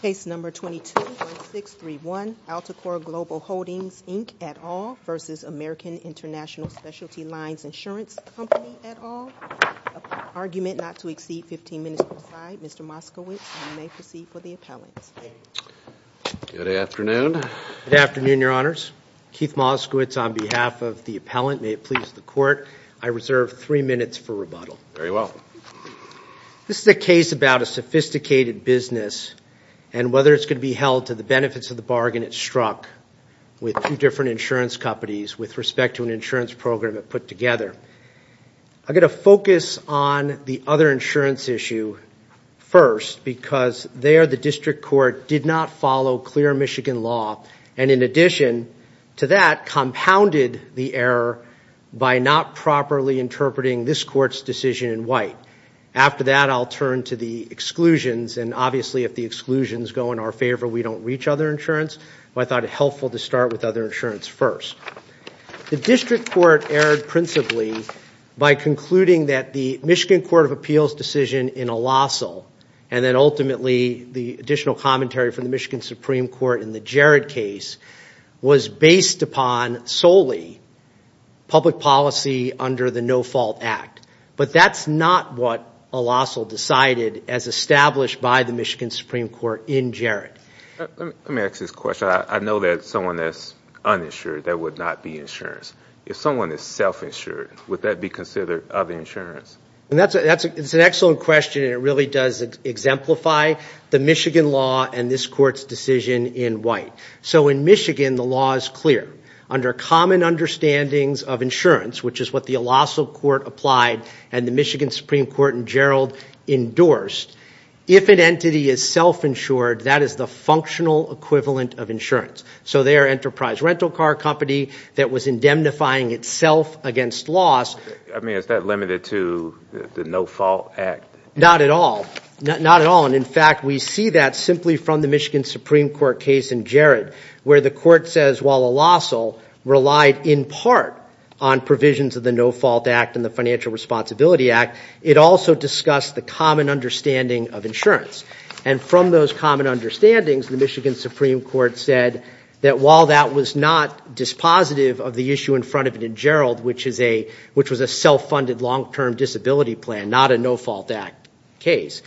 Case number 22-1631, Alticor Global Holdings Inc, et al. v. American Intl Specialty Lines Insurance Company, et al. Argument not to exceed 15 minutes per side. Mr. Moskowitz, you may proceed for the appellant. Good afternoon. Good afternoon, Your Honors. Keith Moskowitz on behalf of the appellant. May it please the Court, I reserve three minutes for rebuttal. Very well. This is a case about a sophisticated business and whether it's going to be held to the benefits of the bargain it struck with two different insurance companies with respect to an insurance program it put together. I'm going to focus on the other insurance issue first because there the district court did not follow clear Michigan law and in addition to that, compounded the error by not properly interpreting this court's decision in white. After that, I'll turn to the exclusions and obviously if the exclusions go in our favor, we don't reach other insurance. I thought it helpful to start with other insurance first. The district court erred principally by concluding that the Michigan Court of Appeals decision in Olosol and then ultimately the additional commentary from the Michigan Supreme Court in the Jarrett case was based upon solely public policy under the No Fault Act. But that's not what Olosol decided as established by the Michigan Supreme Court in Jarrett. Let me ask this question. I know that someone that's uninsured, that would not be insurance. If someone is self-insured, would that be considered other insurance? That's an excellent question and it really does exemplify the Michigan law and this court's decision in white. So in Michigan, the law is clear. Under common understandings of insurance, which is what the Olosol Court applied and the Michigan Supreme Court in Jarrett endorsed, if an entity is self-insured, that is the functional equivalent of insurance. So they are enterprise rental car company that was indemnifying itself against laws. I mean, is that limited to the No Fault Act? Not at all. Not at all. And in fact, we see that simply from the Michigan Supreme Court case in Jarrett where the court says while Olosol relied in part on provisions of the No Fault Act and the Financial Responsibility Act, it also discussed the common understanding of insurance. And from those common understandings, the Michigan Supreme Court said that while that was not dispositive of the issue in front of it in Jarrett, which was a self-funded long-term disability plan, not a No Fault Act case.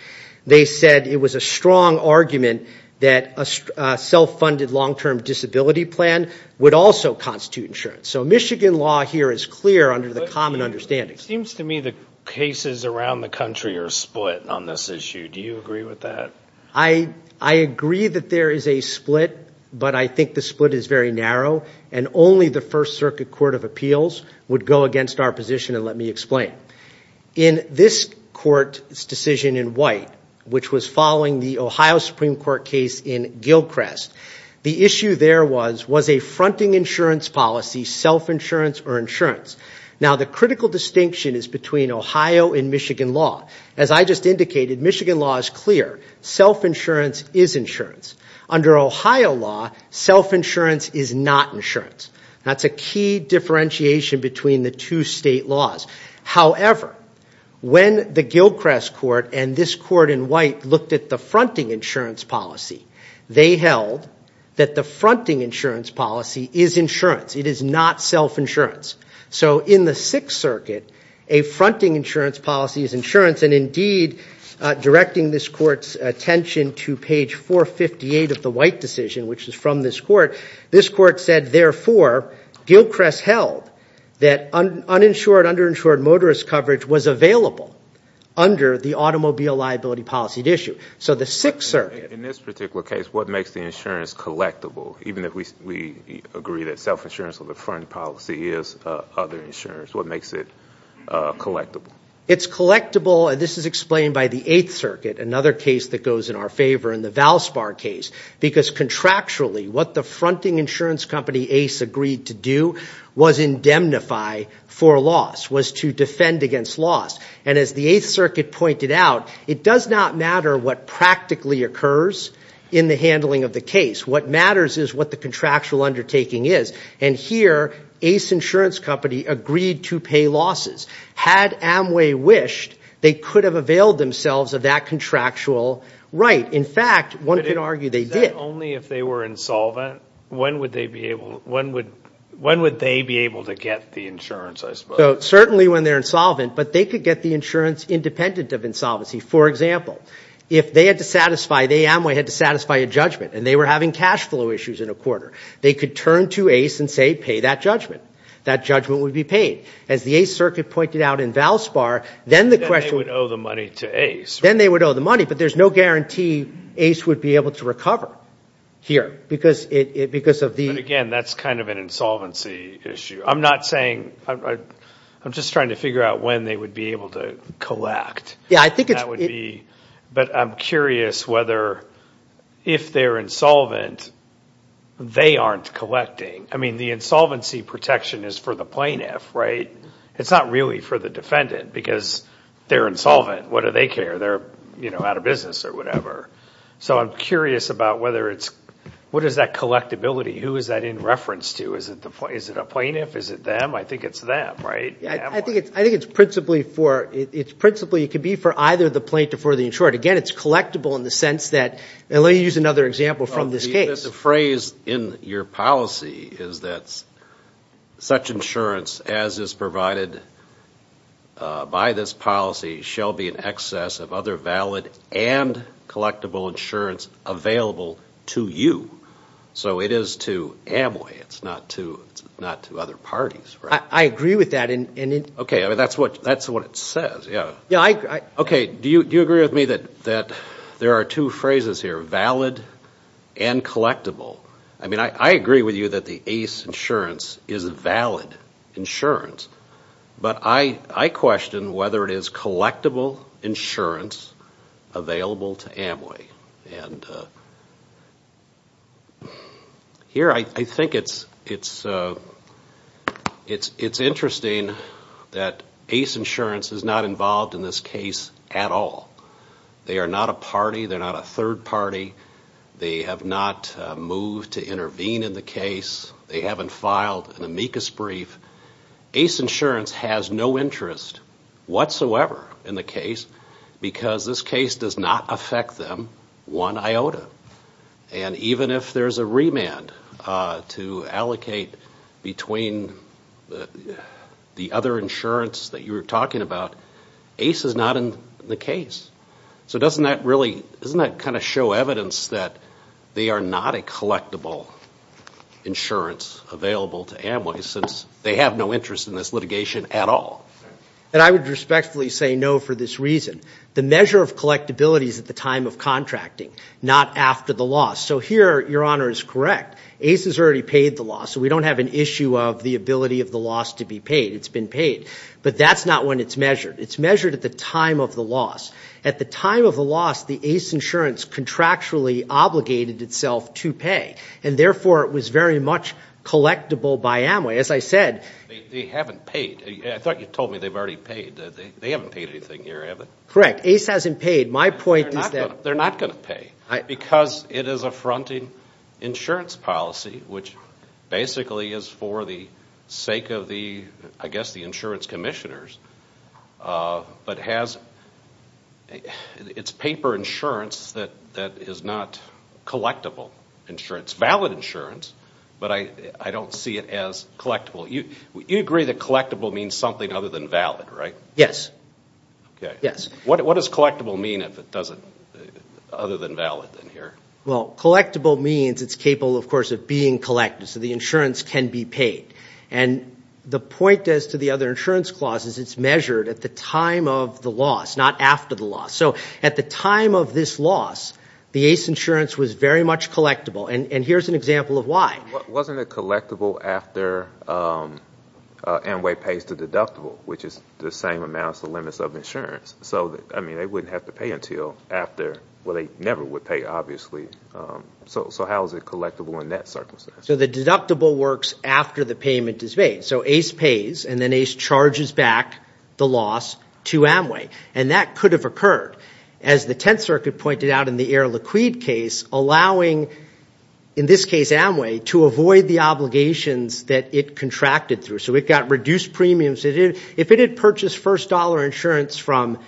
They said it was a strong argument that a self-funded long-term disability plan would also constitute insurance. So Michigan law here is clear under the common understanding. It seems to me the cases around the country are split on this issue. Do you agree with that? I agree that there is a split, but I think the split is very narrow. And only the First Circuit Court of Appeals would go against our position, and let me explain. In this court's decision in White, which was following the Ohio Supreme Court case in Gilchrest, the issue there was a fronting insurance policy, self-insurance or insurance. Now, the critical distinction is between Ohio and Michigan law. As I just indicated, Michigan law is clear. Self-insurance is insurance. Under Ohio law, self-insurance is not insurance. That's a key differentiation between the two state laws. However, when the Gilchrest court and this court in White looked at the fronting insurance policy, they held that the fronting insurance policy is insurance. It is not self-insurance. So in the Sixth Circuit, a fronting insurance policy is insurance, and indeed, directing this court's attention to page 458 of the White decision, which is from this court, this court said, therefore, Gilchrest held that uninsured, underinsured motorist coverage was available under the automobile liability policy issue. So the Sixth Circuit. In this particular case, what makes the insurance collectible, even if we agree that self-insurance or the fronting policy is other insurance? What makes it collectible? It's collectible, and this is explained by the Eighth Circuit, another case that goes in our favor in the Valspar case, because contractually, what the fronting insurance company, Ace, agreed to do was indemnify for loss, was to defend against loss. And as the Eighth Circuit pointed out, it does not matter what practically occurs in the handling of the case. What matters is what the contractual undertaking is. And here, Ace Insurance Company agreed to pay losses. Had Amway wished, they could have availed themselves of that contractual right. In fact, one could argue they did. Is that only if they were insolvent? When would they be able to get the insurance, I suppose? So certainly when they're insolvent, but they could get the insurance independent of insolvency. For example, if they had to satisfy, if Amway had to satisfy a judgment, and they were having cash flow issues in a quarter, they could turn to Ace and say, pay that judgment. That judgment would be paid. As the Eighth Circuit pointed out in Valspar, then the question was – Then they would owe the money to Ace. Then they would owe the money, but there's no guarantee Ace would be able to recover here because of the – But again, that's kind of an insolvency issue. I'm not saying – I'm just trying to figure out when they would be able to collect. Yeah, I think it's – But I'm curious whether if they're insolvent, they aren't collecting. I mean, the insolvency protection is for the plaintiff, right? It's not really for the defendant because they're insolvent. What do they care? They're out of business or whatever. So I'm curious about whether it's – what is that collectibility? Who is that in reference to? Is it a plaintiff? Is it them? I think it's them, right? I think it's principally for – it's principally – It could be for either the plaintiff or the insured. Again, it's collectible in the sense that – And let me use another example from this case. The phrase in your policy is that such insurance as is provided by this policy shall be in excess of other valid and collectible insurance available to you. So it is to Amway. It's not to other parties, right? I agree with that. Okay. I mean, that's what it says. Yeah. Yeah, I – Okay. Do you agree with me that there are two phrases here, valid and collectible? I mean, I agree with you that the ACE insurance is a valid insurance. But I question whether it is collectible insurance available to Amway. And here I think it's interesting that ACE insurance is not involved in this case at all. They are not a party. They're not a third party. They have not moved to intervene in the case. They haven't filed an amicus brief. ACE insurance has no interest whatsoever in the case because this case does not affect them one iota. And even if there's a remand to allocate between the other insurance that you were talking about, ACE is not in the case. So doesn't that really – doesn't that kind of show evidence that they are not a collectible insurance available to Amway since they have no interest in this litigation at all? And I would respectfully say no for this reason. The measure of collectibility is at the time of contracting, not after the loss. So here, Your Honor, is correct. ACE has already paid the loss, so we don't have an issue of the ability of the loss to be paid. It's been paid. But that's not when it's measured. It's measured at the time of the loss. At the time of the loss, the ACE insurance contractually obligated itself to pay, and therefore it was very much collectible by Amway. As I said – They haven't paid. I thought you told me they've already paid. They haven't paid anything here, have they? Correct. ACE hasn't paid. My point is that – They're not going to pay because it is a fronting insurance policy, which basically is for the sake of the, I guess, the insurance commissioners, but it's paper insurance that is not collectible insurance. It's valid insurance, but I don't see it as collectible. You agree that collectible means something other than valid, right? Yes. Okay. Yes. What does collectible mean if it doesn't – other than valid in here? Well, collectible means it's capable, of course, of being collected, so the insurance can be paid. And the point as to the other insurance clause is it's measured at the time of the loss, not after the loss. So at the time of this loss, the ACE insurance was very much collectible, and here's an example of why. Wasn't it collectible after Amway pays the deductible, which is the same amount as the limits of insurance? So, I mean, they wouldn't have to pay until after – well, they never would pay, obviously. So how is it collectible in that circumstance? So the deductible works after the payment is made. So ACE pays, and then ACE charges back the loss to Amway, and that could have occurred. As the Tenth Circuit pointed out in the Air Liquide case, allowing, in this case, Amway, to avoid the obligations that it contracted through. So it got reduced premiums. If it had purchased first-dollar insurance from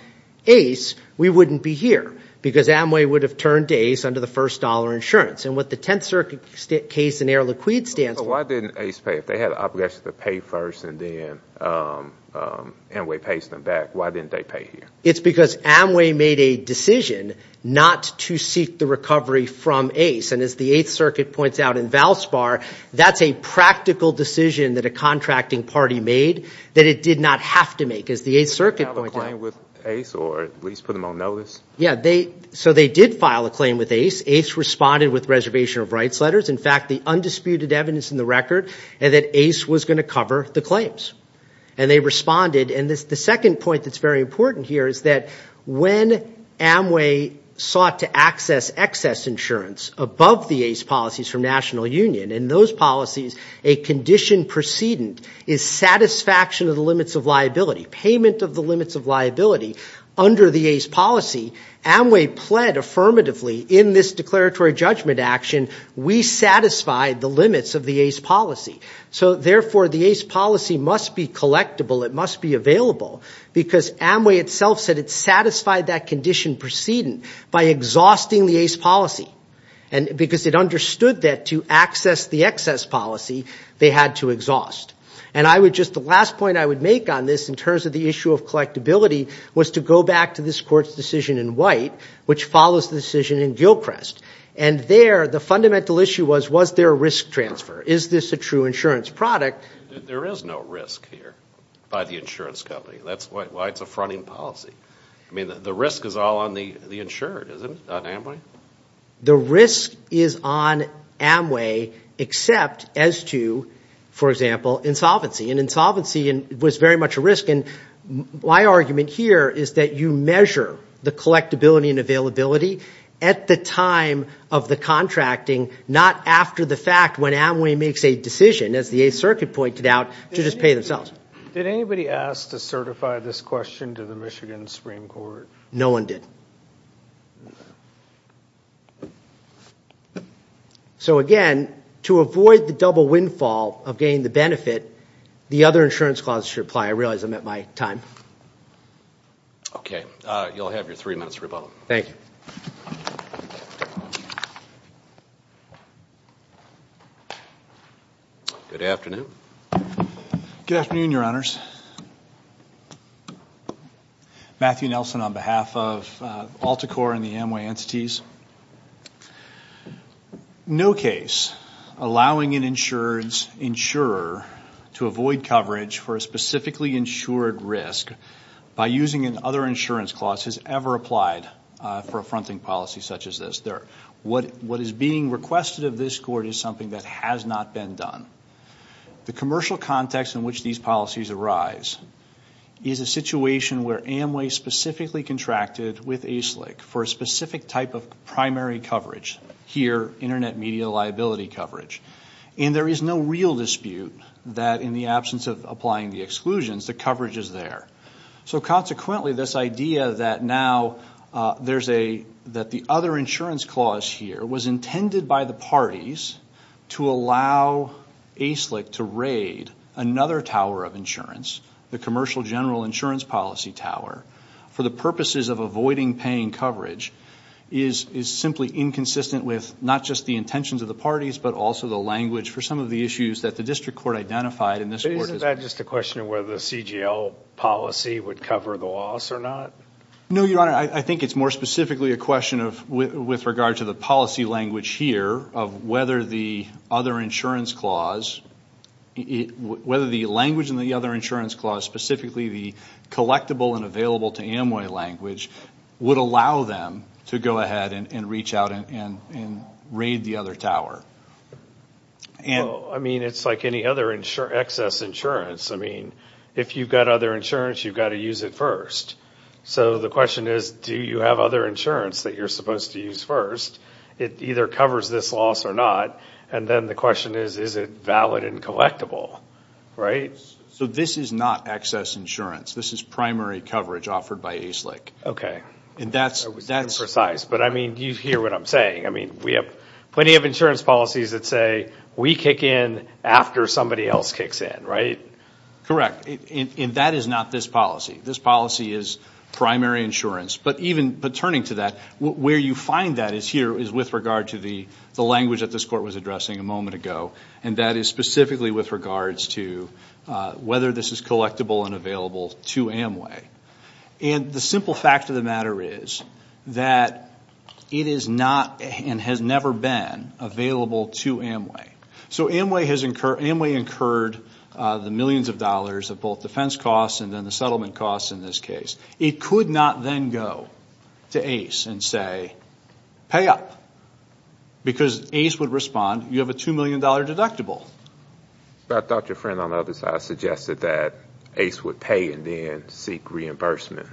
ACE, we wouldn't be here because Amway would have turned to ACE under the first-dollar insurance. And what the Tenth Circuit case in Air Liquide stands for – But why didn't ACE pay? If they had an obligation to pay first and then Amway pays them back, why didn't they pay here? It's because Amway made a decision not to seek the recovery from ACE. And as the Eighth Circuit points out in Valspar, that's a practical decision that a contracting party made that it did not have to make. As the Eighth Circuit pointed out – Did they file a claim with ACE or at least put them on notice? Yeah, so they did file a claim with ACE. ACE responded with reservation of rights letters. In fact, the undisputed evidence in the record, and that ACE was going to cover the claims. And they responded. And the second point that's very important here is that when Amway sought to access excess insurance above the ACE policies from National Union, in those policies, a condition precedent is satisfaction of the limits of liability, payment of the limits of liability. Under the ACE policy, Amway pled affirmatively in this declaratory judgment action, we satisfy the limits of the ACE policy. So, therefore, the ACE policy must be collectible. It must be available. Because Amway itself said it satisfied that condition precedent by exhausting the ACE policy. And because it understood that to access the excess policy, they had to exhaust. And I would just – the last point I would make on this in terms of the issue of collectability was to go back to this court's decision in White, which follows the decision in Gilchrest. And there, the fundamental issue was, was there a risk transfer? Is this a true insurance product? There is no risk here by the insurance company. That's why it's a fronting policy. I mean, the risk is all on the insured, isn't it, not Amway? The risk is on Amway except as to, for example, insolvency. And insolvency was very much a risk. And my argument here is that you measure the collectability and availability at the time of the contracting, not after the fact when Amway makes a decision, as the Eighth Circuit pointed out, to just pay themselves. Did anybody ask to certify this question to the Michigan Supreme Court? No one did. So, again, to avoid the double windfall of getting the benefit, the other insurance clauses should apply. I realize I'm at my time. Okay. You'll have your three minutes to rebuttal. Thank you. Good afternoon. Good afternoon, Your Honors. Matthew Nelson on behalf of AltaCore and the Amway entities. No case allowing an insurer to avoid coverage for a specifically insured risk by using an other insurance clause has ever applied for a fronting policy such as this. What is being requested of this Court is something that has not been done. The commercial context in which these policies arise is a situation where Amway specifically contracted with ASLIC for a specific type of primary coverage, here, Internet media liability coverage. And there is no real dispute that in the absence of applying the exclusions, the coverage is there. So, consequently, this idea that now there's a, that the other insurance clause here was intended by the parties to allow ASLIC to raid another tower of insurance, the Commercial General Insurance Policy Tower, for the purposes of avoiding paying coverage is simply inconsistent with not just the intentions of the parties, but also the language for some of the issues that the District Court identified in this Court. Isn't that just a question of whether the CGL policy would cover the loss or not? No, Your Honor. I think it's more specifically a question of, with regard to the policy language here, of whether the other insurance clause, whether the language in the other insurance clause, specifically the collectible and available to Amway language, would allow them to go ahead and reach out and raid the other tower. Well, I mean, it's like any other excess insurance. I mean, if you've got other insurance, you've got to use it first. So the question is, do you have other insurance that you're supposed to use first? It either covers this loss or not. And then the question is, is it valid and collectible, right? So this is not excess insurance. This is primary coverage offered by ACLIC. And that's... But, I mean, you hear what I'm saying. I mean, we have plenty of insurance policies that say, we kick in after somebody else kicks in, right? Correct. And that is not this policy. This policy is primary insurance. But even turning to that, where you find that here is with regard to the language that this Court was addressing a moment ago. And that is specifically with regards to whether this is collectible and available to Amway. And the simple fact of the matter is that it is not and has never been available to Amway. So Amway incurred the millions of dollars of both defense costs and then the settlement costs in this case. It could not then go to ACE and say, pay up. Because ACE would respond, you have a $2 million deductible. But I thought your friend on the other side suggested that ACE would pay and then seek reimbursement.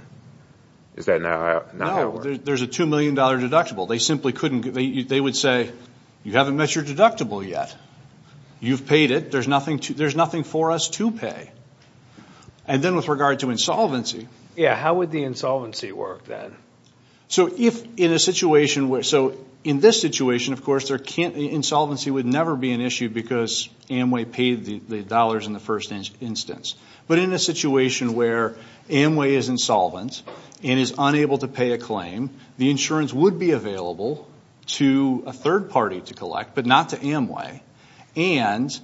Is that not how it works? There's a $2 million deductible. They simply couldn't... They would say, you haven't met your deductible yet. You've paid it. There's nothing for us to pay. And then with regard to insolvency... Yeah, how would the insolvency work then? So in this situation, of course, insolvency would never be an issue because Amway paid the dollars in the first instance. But in a situation where Amway is insolvent and is unable to pay a claim, the insurance would be available to a third party to collect, but not to Amway. And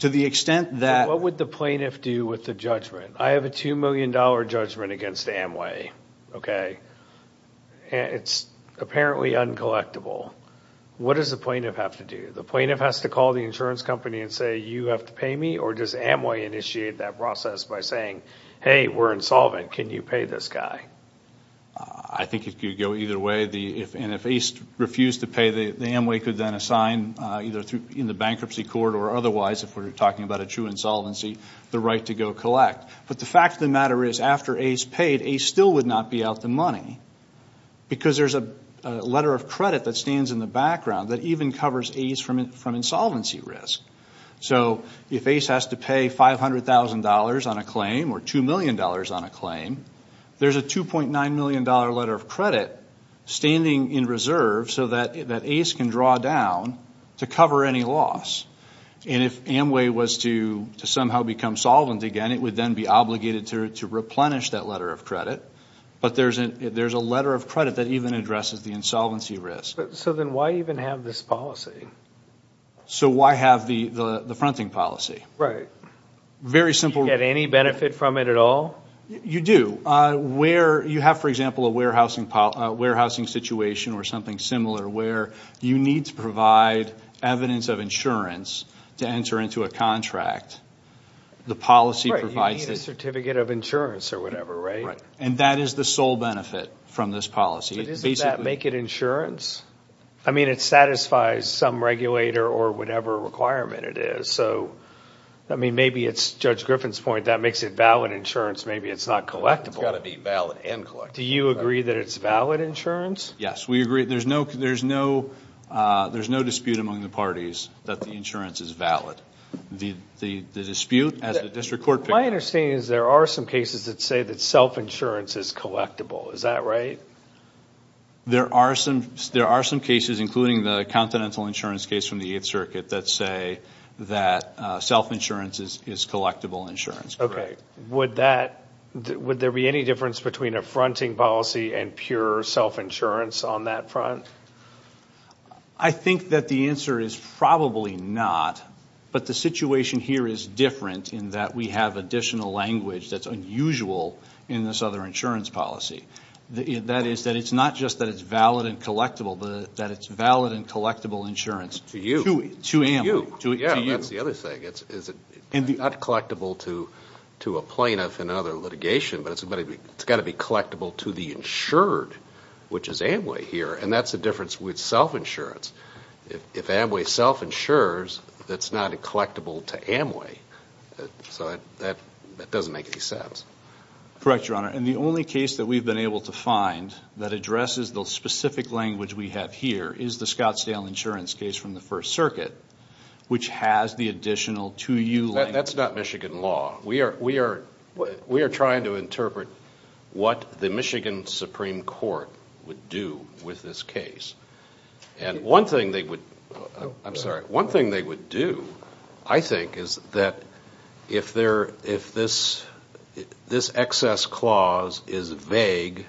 to the extent that... What would the plaintiff do with the judgment? I have a $2 million judgment against Amway. Okay. It's apparently uncollectible. What does the plaintiff have to do? The plaintiff has to call the insurance company and say, you have to pay me? Or does Amway initiate that process by saying, hey, we're insolvent. Can you pay this guy? I think it could go either way. And if ACE refused to pay, the Amway could then assign, either in the bankruptcy court or otherwise, if we're talking about a true insolvency, the right to go collect. But the fact of the matter is, after ACE paid, ACE still would not be out the money because there's a letter of credit that stands in the background that even covers ACE from insolvency risk. So if ACE has to pay $500,000 on a claim or $2 million on a claim, there's a $2.9 million letter of credit standing in reserve so that ACE can draw down to cover any loss. And if Amway was to somehow become solvent again, it would then be obligated to replenish that letter of credit. But there's a letter of credit that even addresses the insolvency risk. So then why even have this policy? So why have the fronting policy? Right. Very simple. Do you get any benefit from it at all? You do. You have, for example, a warehousing situation or something similar where you need to provide evidence of insurance to enter into a contract. The policy provides it. You need a certificate of insurance or whatever, right? Right. And that is the sole benefit from this policy. But doesn't that make it insurance? I mean, it satisfies some regulator or whatever requirement it is. So, I mean, maybe it's Judge Griffin's point. That makes it valid insurance. Maybe it's not collectible. It's got to be valid and collectible. Do you agree that it's valid insurance? Yes, we agree. There's no dispute among the parties that the insurance is valid. The dispute, as the district court... My understanding is there are some cases that say that self-insurance is collectible. Is that right? There are some cases, including the Continental Insurance case from the Eighth Circuit, that say that self-insurance is collectible insurance. Okay. Would there be any difference between a fronting policy and pure self-insurance on that front? I think that the answer is probably not. But the situation here is different in that we have additional language that's unusual in this other insurance policy. That is that it's not just that it's valid and collectible, but that it's valid and collectible insurance. To you. To you. Yeah, that's the other thing. It's not collectible to a plaintiff in another litigation, but it's got to be collectible to the insured, which is Amway here. And that's the difference with self-insurance. If Amway self-insures, it's not collectible to Amway. So that doesn't make any sense. Correct, Your Honor. And the only case that we've been able to find that addresses the specific language we have here is the Scottsdale insurance case from the First Circuit, which has the additional to you language. That's not Michigan law. We are trying to interpret what the Michigan Supreme Court would do with this case. And one thing they would do, I think, is that if this excess clause is vague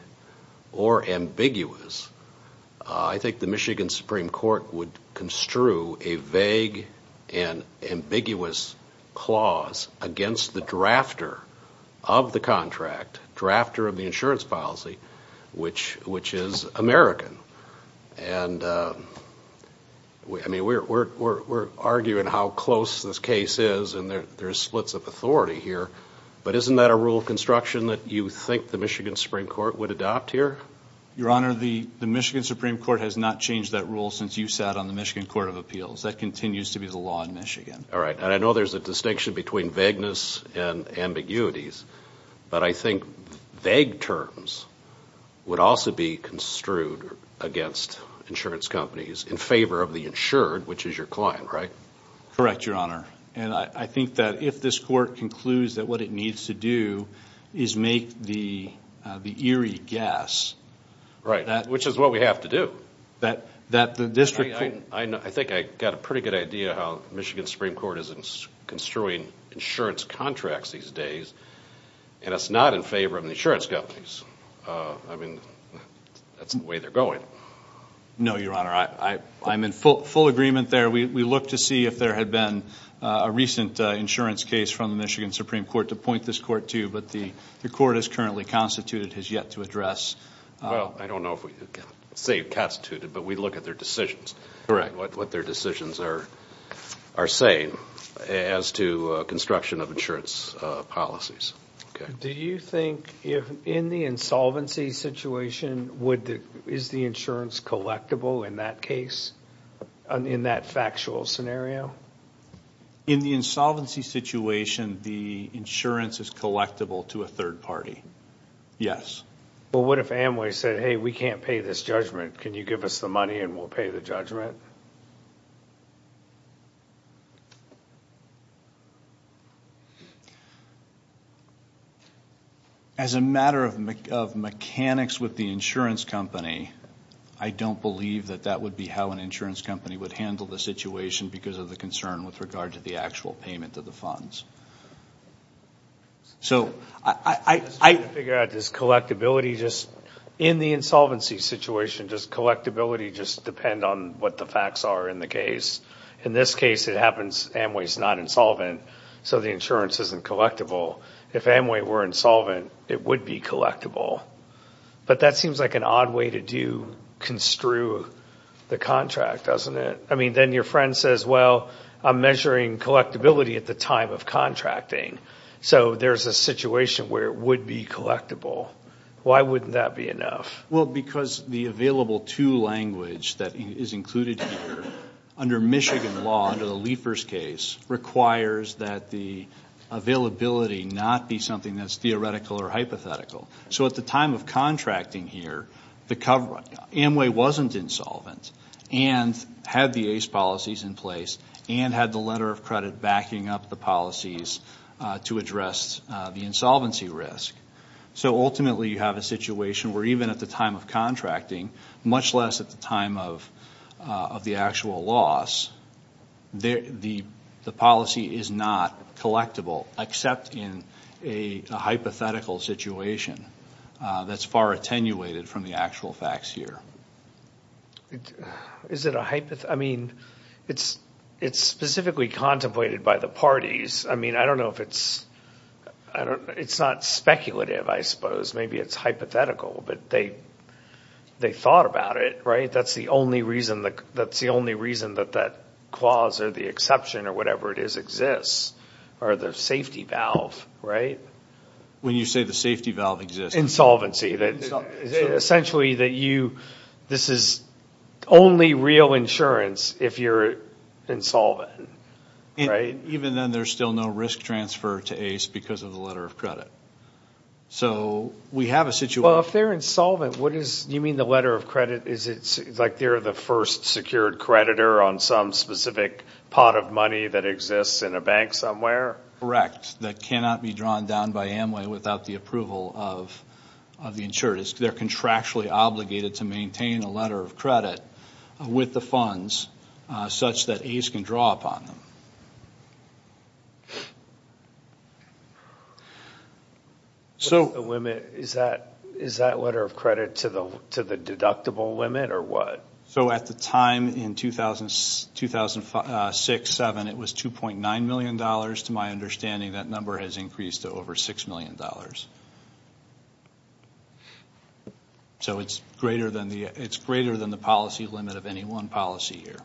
or ambiguous, I think the Michigan Supreme Court would construe a vague and ambiguous clause against the drafter of the contract, drafter of the insurance policy, which is American. And, I mean, we're arguing how close this case is, and there's splits of authority here, but isn't that a rule of construction that you think the Michigan Supreme Court would adopt here? Your Honor, the Michigan Supreme Court has not changed that rule since you sat on the Michigan Court of Appeals. That continues to be the law in Michigan. All right. And I know there's a distinction between vagueness and ambiguities, but I think vague terms would also be construed against insurance companies in favor of the insured, which is your client, right? Correct, Your Honor. And I think that if this court concludes that what it needs to do is make the eerie guess. Right, which is what we have to do. I think I've got a pretty good idea how the Michigan Supreme Court is construing insurance contracts these days, and it's not in favor of the insurance companies. I mean, that's the way they're going. No, Your Honor. I'm in full agreement there. We look to see if there had been a recent insurance case from the Michigan Supreme Court to point this court to, but the court has currently constituted, has yet to address. Well, I don't know if we can say constituted, but we look at their decisions, what their decisions are saying as to construction of insurance policies. Do you think in the insolvency situation, is the insurance collectible in that case, in that factual scenario? In the insolvency situation, the insurance is collectible to a third party, yes. Well, what if Amway said, hey, we can't pay this judgment, can you give us the money and we'll pay the judgment? As a matter of mechanics with the insurance company, I don't believe that that would be how an insurance company would handle the situation because of the concern with regard to the actual payment of the funds. So, I figure out this collectibility, just in the insolvency situation, does collectibility just depend on what the facts are in the case? In this case, it happens Amway's not insolvent, so the insurance isn't collectible. If Amway were insolvent, it would be collectible, but that seems like an odd way to construe the contract, doesn't it? I mean, then your friend says, well, I'm measuring collectibility at the time of contracting. So, there's a situation where it would be collectible. Why wouldn't that be enough? Well, because the available-to language that is included here, under Michigan law, under the Liefers case, requires that the availability not be something that's theoretical or hypothetical. So, at the time of contracting here, Amway wasn't insolvent and had the ACE policies in place and had the letter of credit backing up the policies to address the insolvency risk. So, ultimately, you have a situation where even at the time of contracting, much less at the time of the actual loss, the policy is not collectible except in a hypothetical situation that's far attenuated from the actual facts here. Is it a hypothetical? I mean, it's specifically contemplated by the parties. I mean, I don't know if it's... It's not speculative, I suppose. Maybe it's hypothetical, but they thought about it, right? That's the only reason that that clause or the exception or whatever it is exists, or the safety valve, right? When you say the safety valve exists. Insolvency. Essentially, this is only real insurance if you're insolvent, right? Even then, there's still no risk transfer to ACE because of the letter of credit. So, we have a situation... Well, if they're insolvent, what is... Do you mean the letter of credit is like they're the first secured creditor on some specific pot of money that exists in a bank somewhere? Correct. That cannot be drawn down by Amway without the approval of the insured. They're contractually obligated to maintain a letter of credit with the funds such that ACE can draw upon them. Is that letter of credit to the deductible limit or what? So, at the time in 2006-2007, it was $2.9 million. To my understanding, that number has increased to over $6 million. So, it's greater than the policy limit of any one policy here.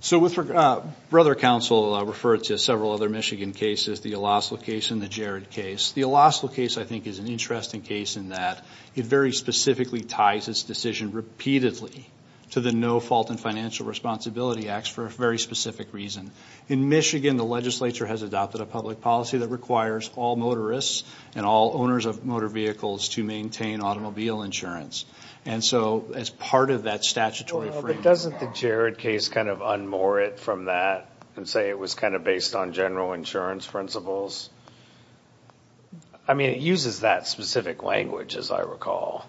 So, with regard... Brother Counsel referred to several other Michigan cases, the Elaslo case and the Jared case. The Elaslo case, I think, is an interesting case in that it very specifically ties its decision repeatedly to the No Fault in Financial Responsibility Act for a very specific reason. In Michigan, the legislature has adopted a public policy that requires all motorists and all owners of motor vehicles to maintain automobile insurance. And so, as part of that statutory framework... But doesn't the Jared case kind of unmoor it from that and say it was kind of based on general insurance principles? I mean, it uses that specific language, as I recall.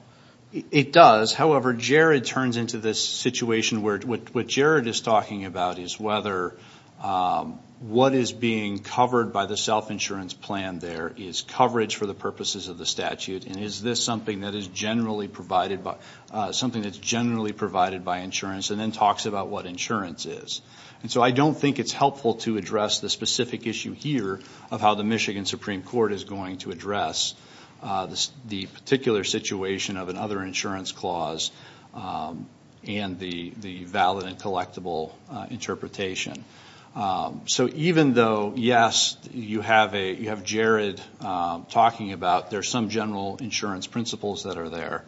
It does. However, Jared turns into this situation where what Jared is talking about is whether what is being covered by the self-insurance plan there is coverage for the purposes of the statute, and is this something that is generally provided by insurance, and then talks about what insurance is. And so I don't think it's helpful to address the specific issue here of how the Michigan Supreme Court is going to address the particular situation of another insurance clause and the valid and collectible interpretation. So even though, yes, you have Jared talking about there's some general insurance principles that are there,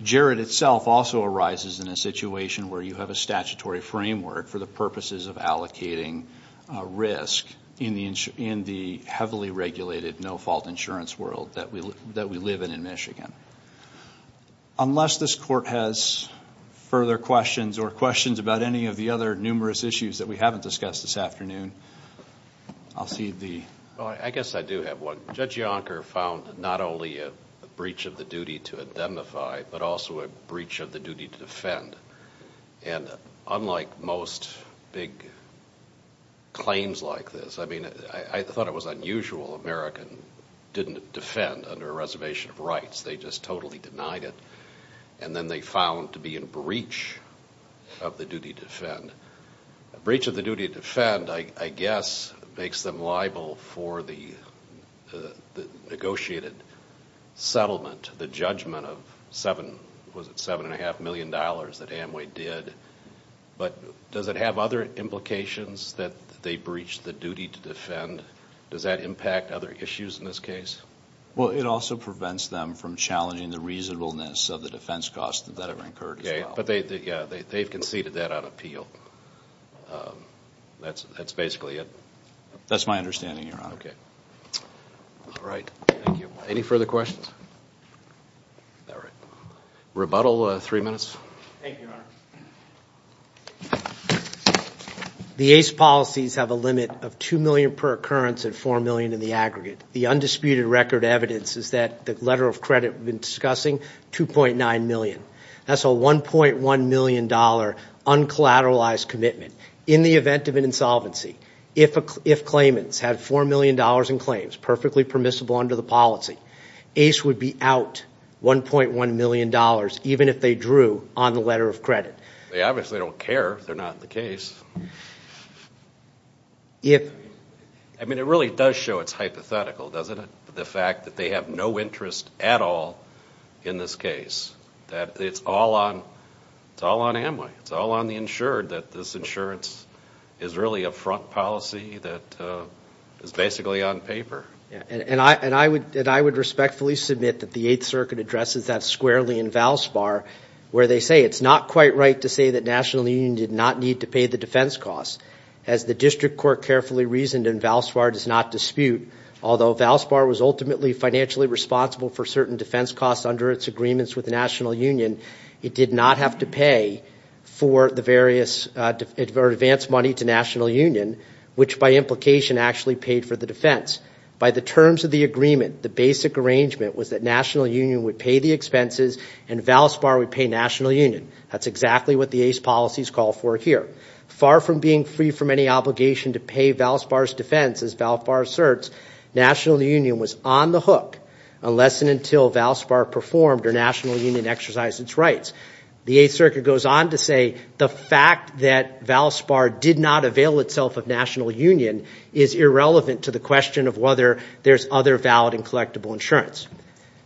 Jared itself also arises in a situation where you have a statutory framework for the purposes of allocating risk in the heavily regulated no-fault insurance world that we live in in Michigan. Unless this court has further questions or questions about any of the other numerous issues that we haven't discussed this afternoon, I'll see the... Well, I guess I do have one. Judge Yonker found not only a breach of the duty to indemnify, but also a breach of the duty to defend. And unlike most big claims like this, I mean, I thought it was unusual. American didn't defend under a reservation of rights. They just totally denied it. And then they found to be in breach of the duty to defend. A breach of the duty to defend, I guess, makes them liable for the negotiated settlement, the judgment of $7.5 million that Amway did. But does it have other implications that they breached the duty to defend? Does that impact other issues in this case? Well, it also prevents them from challenging the reasonableness of the defense cost that that incurred as well. Okay, but they've conceded that on appeal. That's basically it. That's my understanding, Your Honor. Okay. All right. Thank you. Any further questions? Rebuttal, three minutes. Thank you, Your Honor. The ACE policies have a limit of $2 million per occurrence and $4 million in the aggregate. The undisputed record evidence is that the letter of credit we've been discussing, $2.9 million. That's a $1.1 million uncollateralized commitment. In the event of an insolvency, if claimants had $4 million in claims perfectly permissible under the policy, ACE would be out $1.1 million, even if they drew on the letter of credit. They obviously don't care if they're not in the case. I mean, it really does show it's hypothetical, doesn't it, the fact that they have no interest at all in this case, that it's all on Amway, it's all on the insured, that this insurance is really a front policy that is basically on paper. And I would respectfully submit that the Eighth Circuit addresses that squarely in Valspar, where they say it's not quite right to say that National Union did not need to pay the defense costs. As the district court carefully reasoned, and Valspar does not dispute, although Valspar was ultimately financially responsible for certain defense costs under its agreements with the National Union, it did not have to pay for the various advance money to National Union, which by implication actually paid for the defense. By the terms of the agreement, the basic arrangement was that National Union would pay the expenses and Valspar would pay National Union. That's exactly what the ACE policies call for here. Far from being free from any obligation to pay Valspar's defense, as Valspar asserts, National Union was on the hook unless and until Valspar performed or National Union exercised its rights. The Eighth Circuit goes on to say the fact that Valspar did not avail itself of National Union is irrelevant to the question of whether there's other valid and collectible insurance.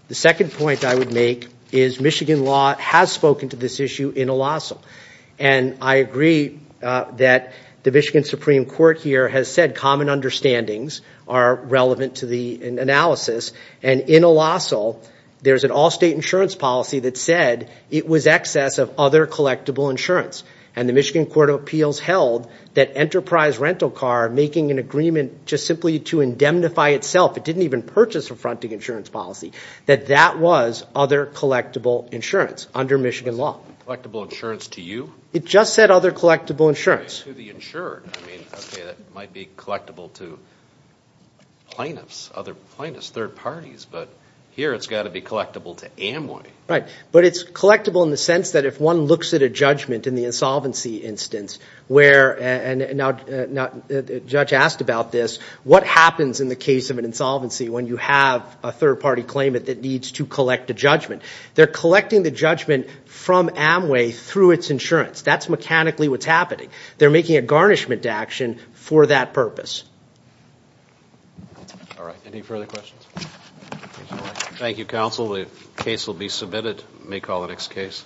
The second point I would make is Michigan law has spoken to this issue in a lasso. And I agree that the Michigan Supreme Court here has said common understandings are relevant to the analysis. And in a lasso, there's an all-state insurance policy that said it was excess of other collectible insurance. And the Michigan Court of Appeals held that Enterprise Rental Car, making an agreement just simply to indemnify itself, it didn't even purchase a fronting insurance policy, that that was other collectible insurance under Michigan law. Collectible insurance to you? It just said other collectible insurance. To the insured. I mean, okay, that might be collectible to plaintiffs, other plaintiffs, third parties, but here it's got to be collectible to Amway. Right. But it's collectible in the sense that if one looks at a judgment in the insolvency instance where, and now the judge asked about this, what happens in the case of an insolvency when you have a third-party claimant that needs to collect a judgment? They're collecting the judgment from Amway through its insurance. That's mechanically what's happening. They're making a garnishment action for that purpose. All right. Any further questions? Thank you, counsel. The case will be submitted. We may call the next case.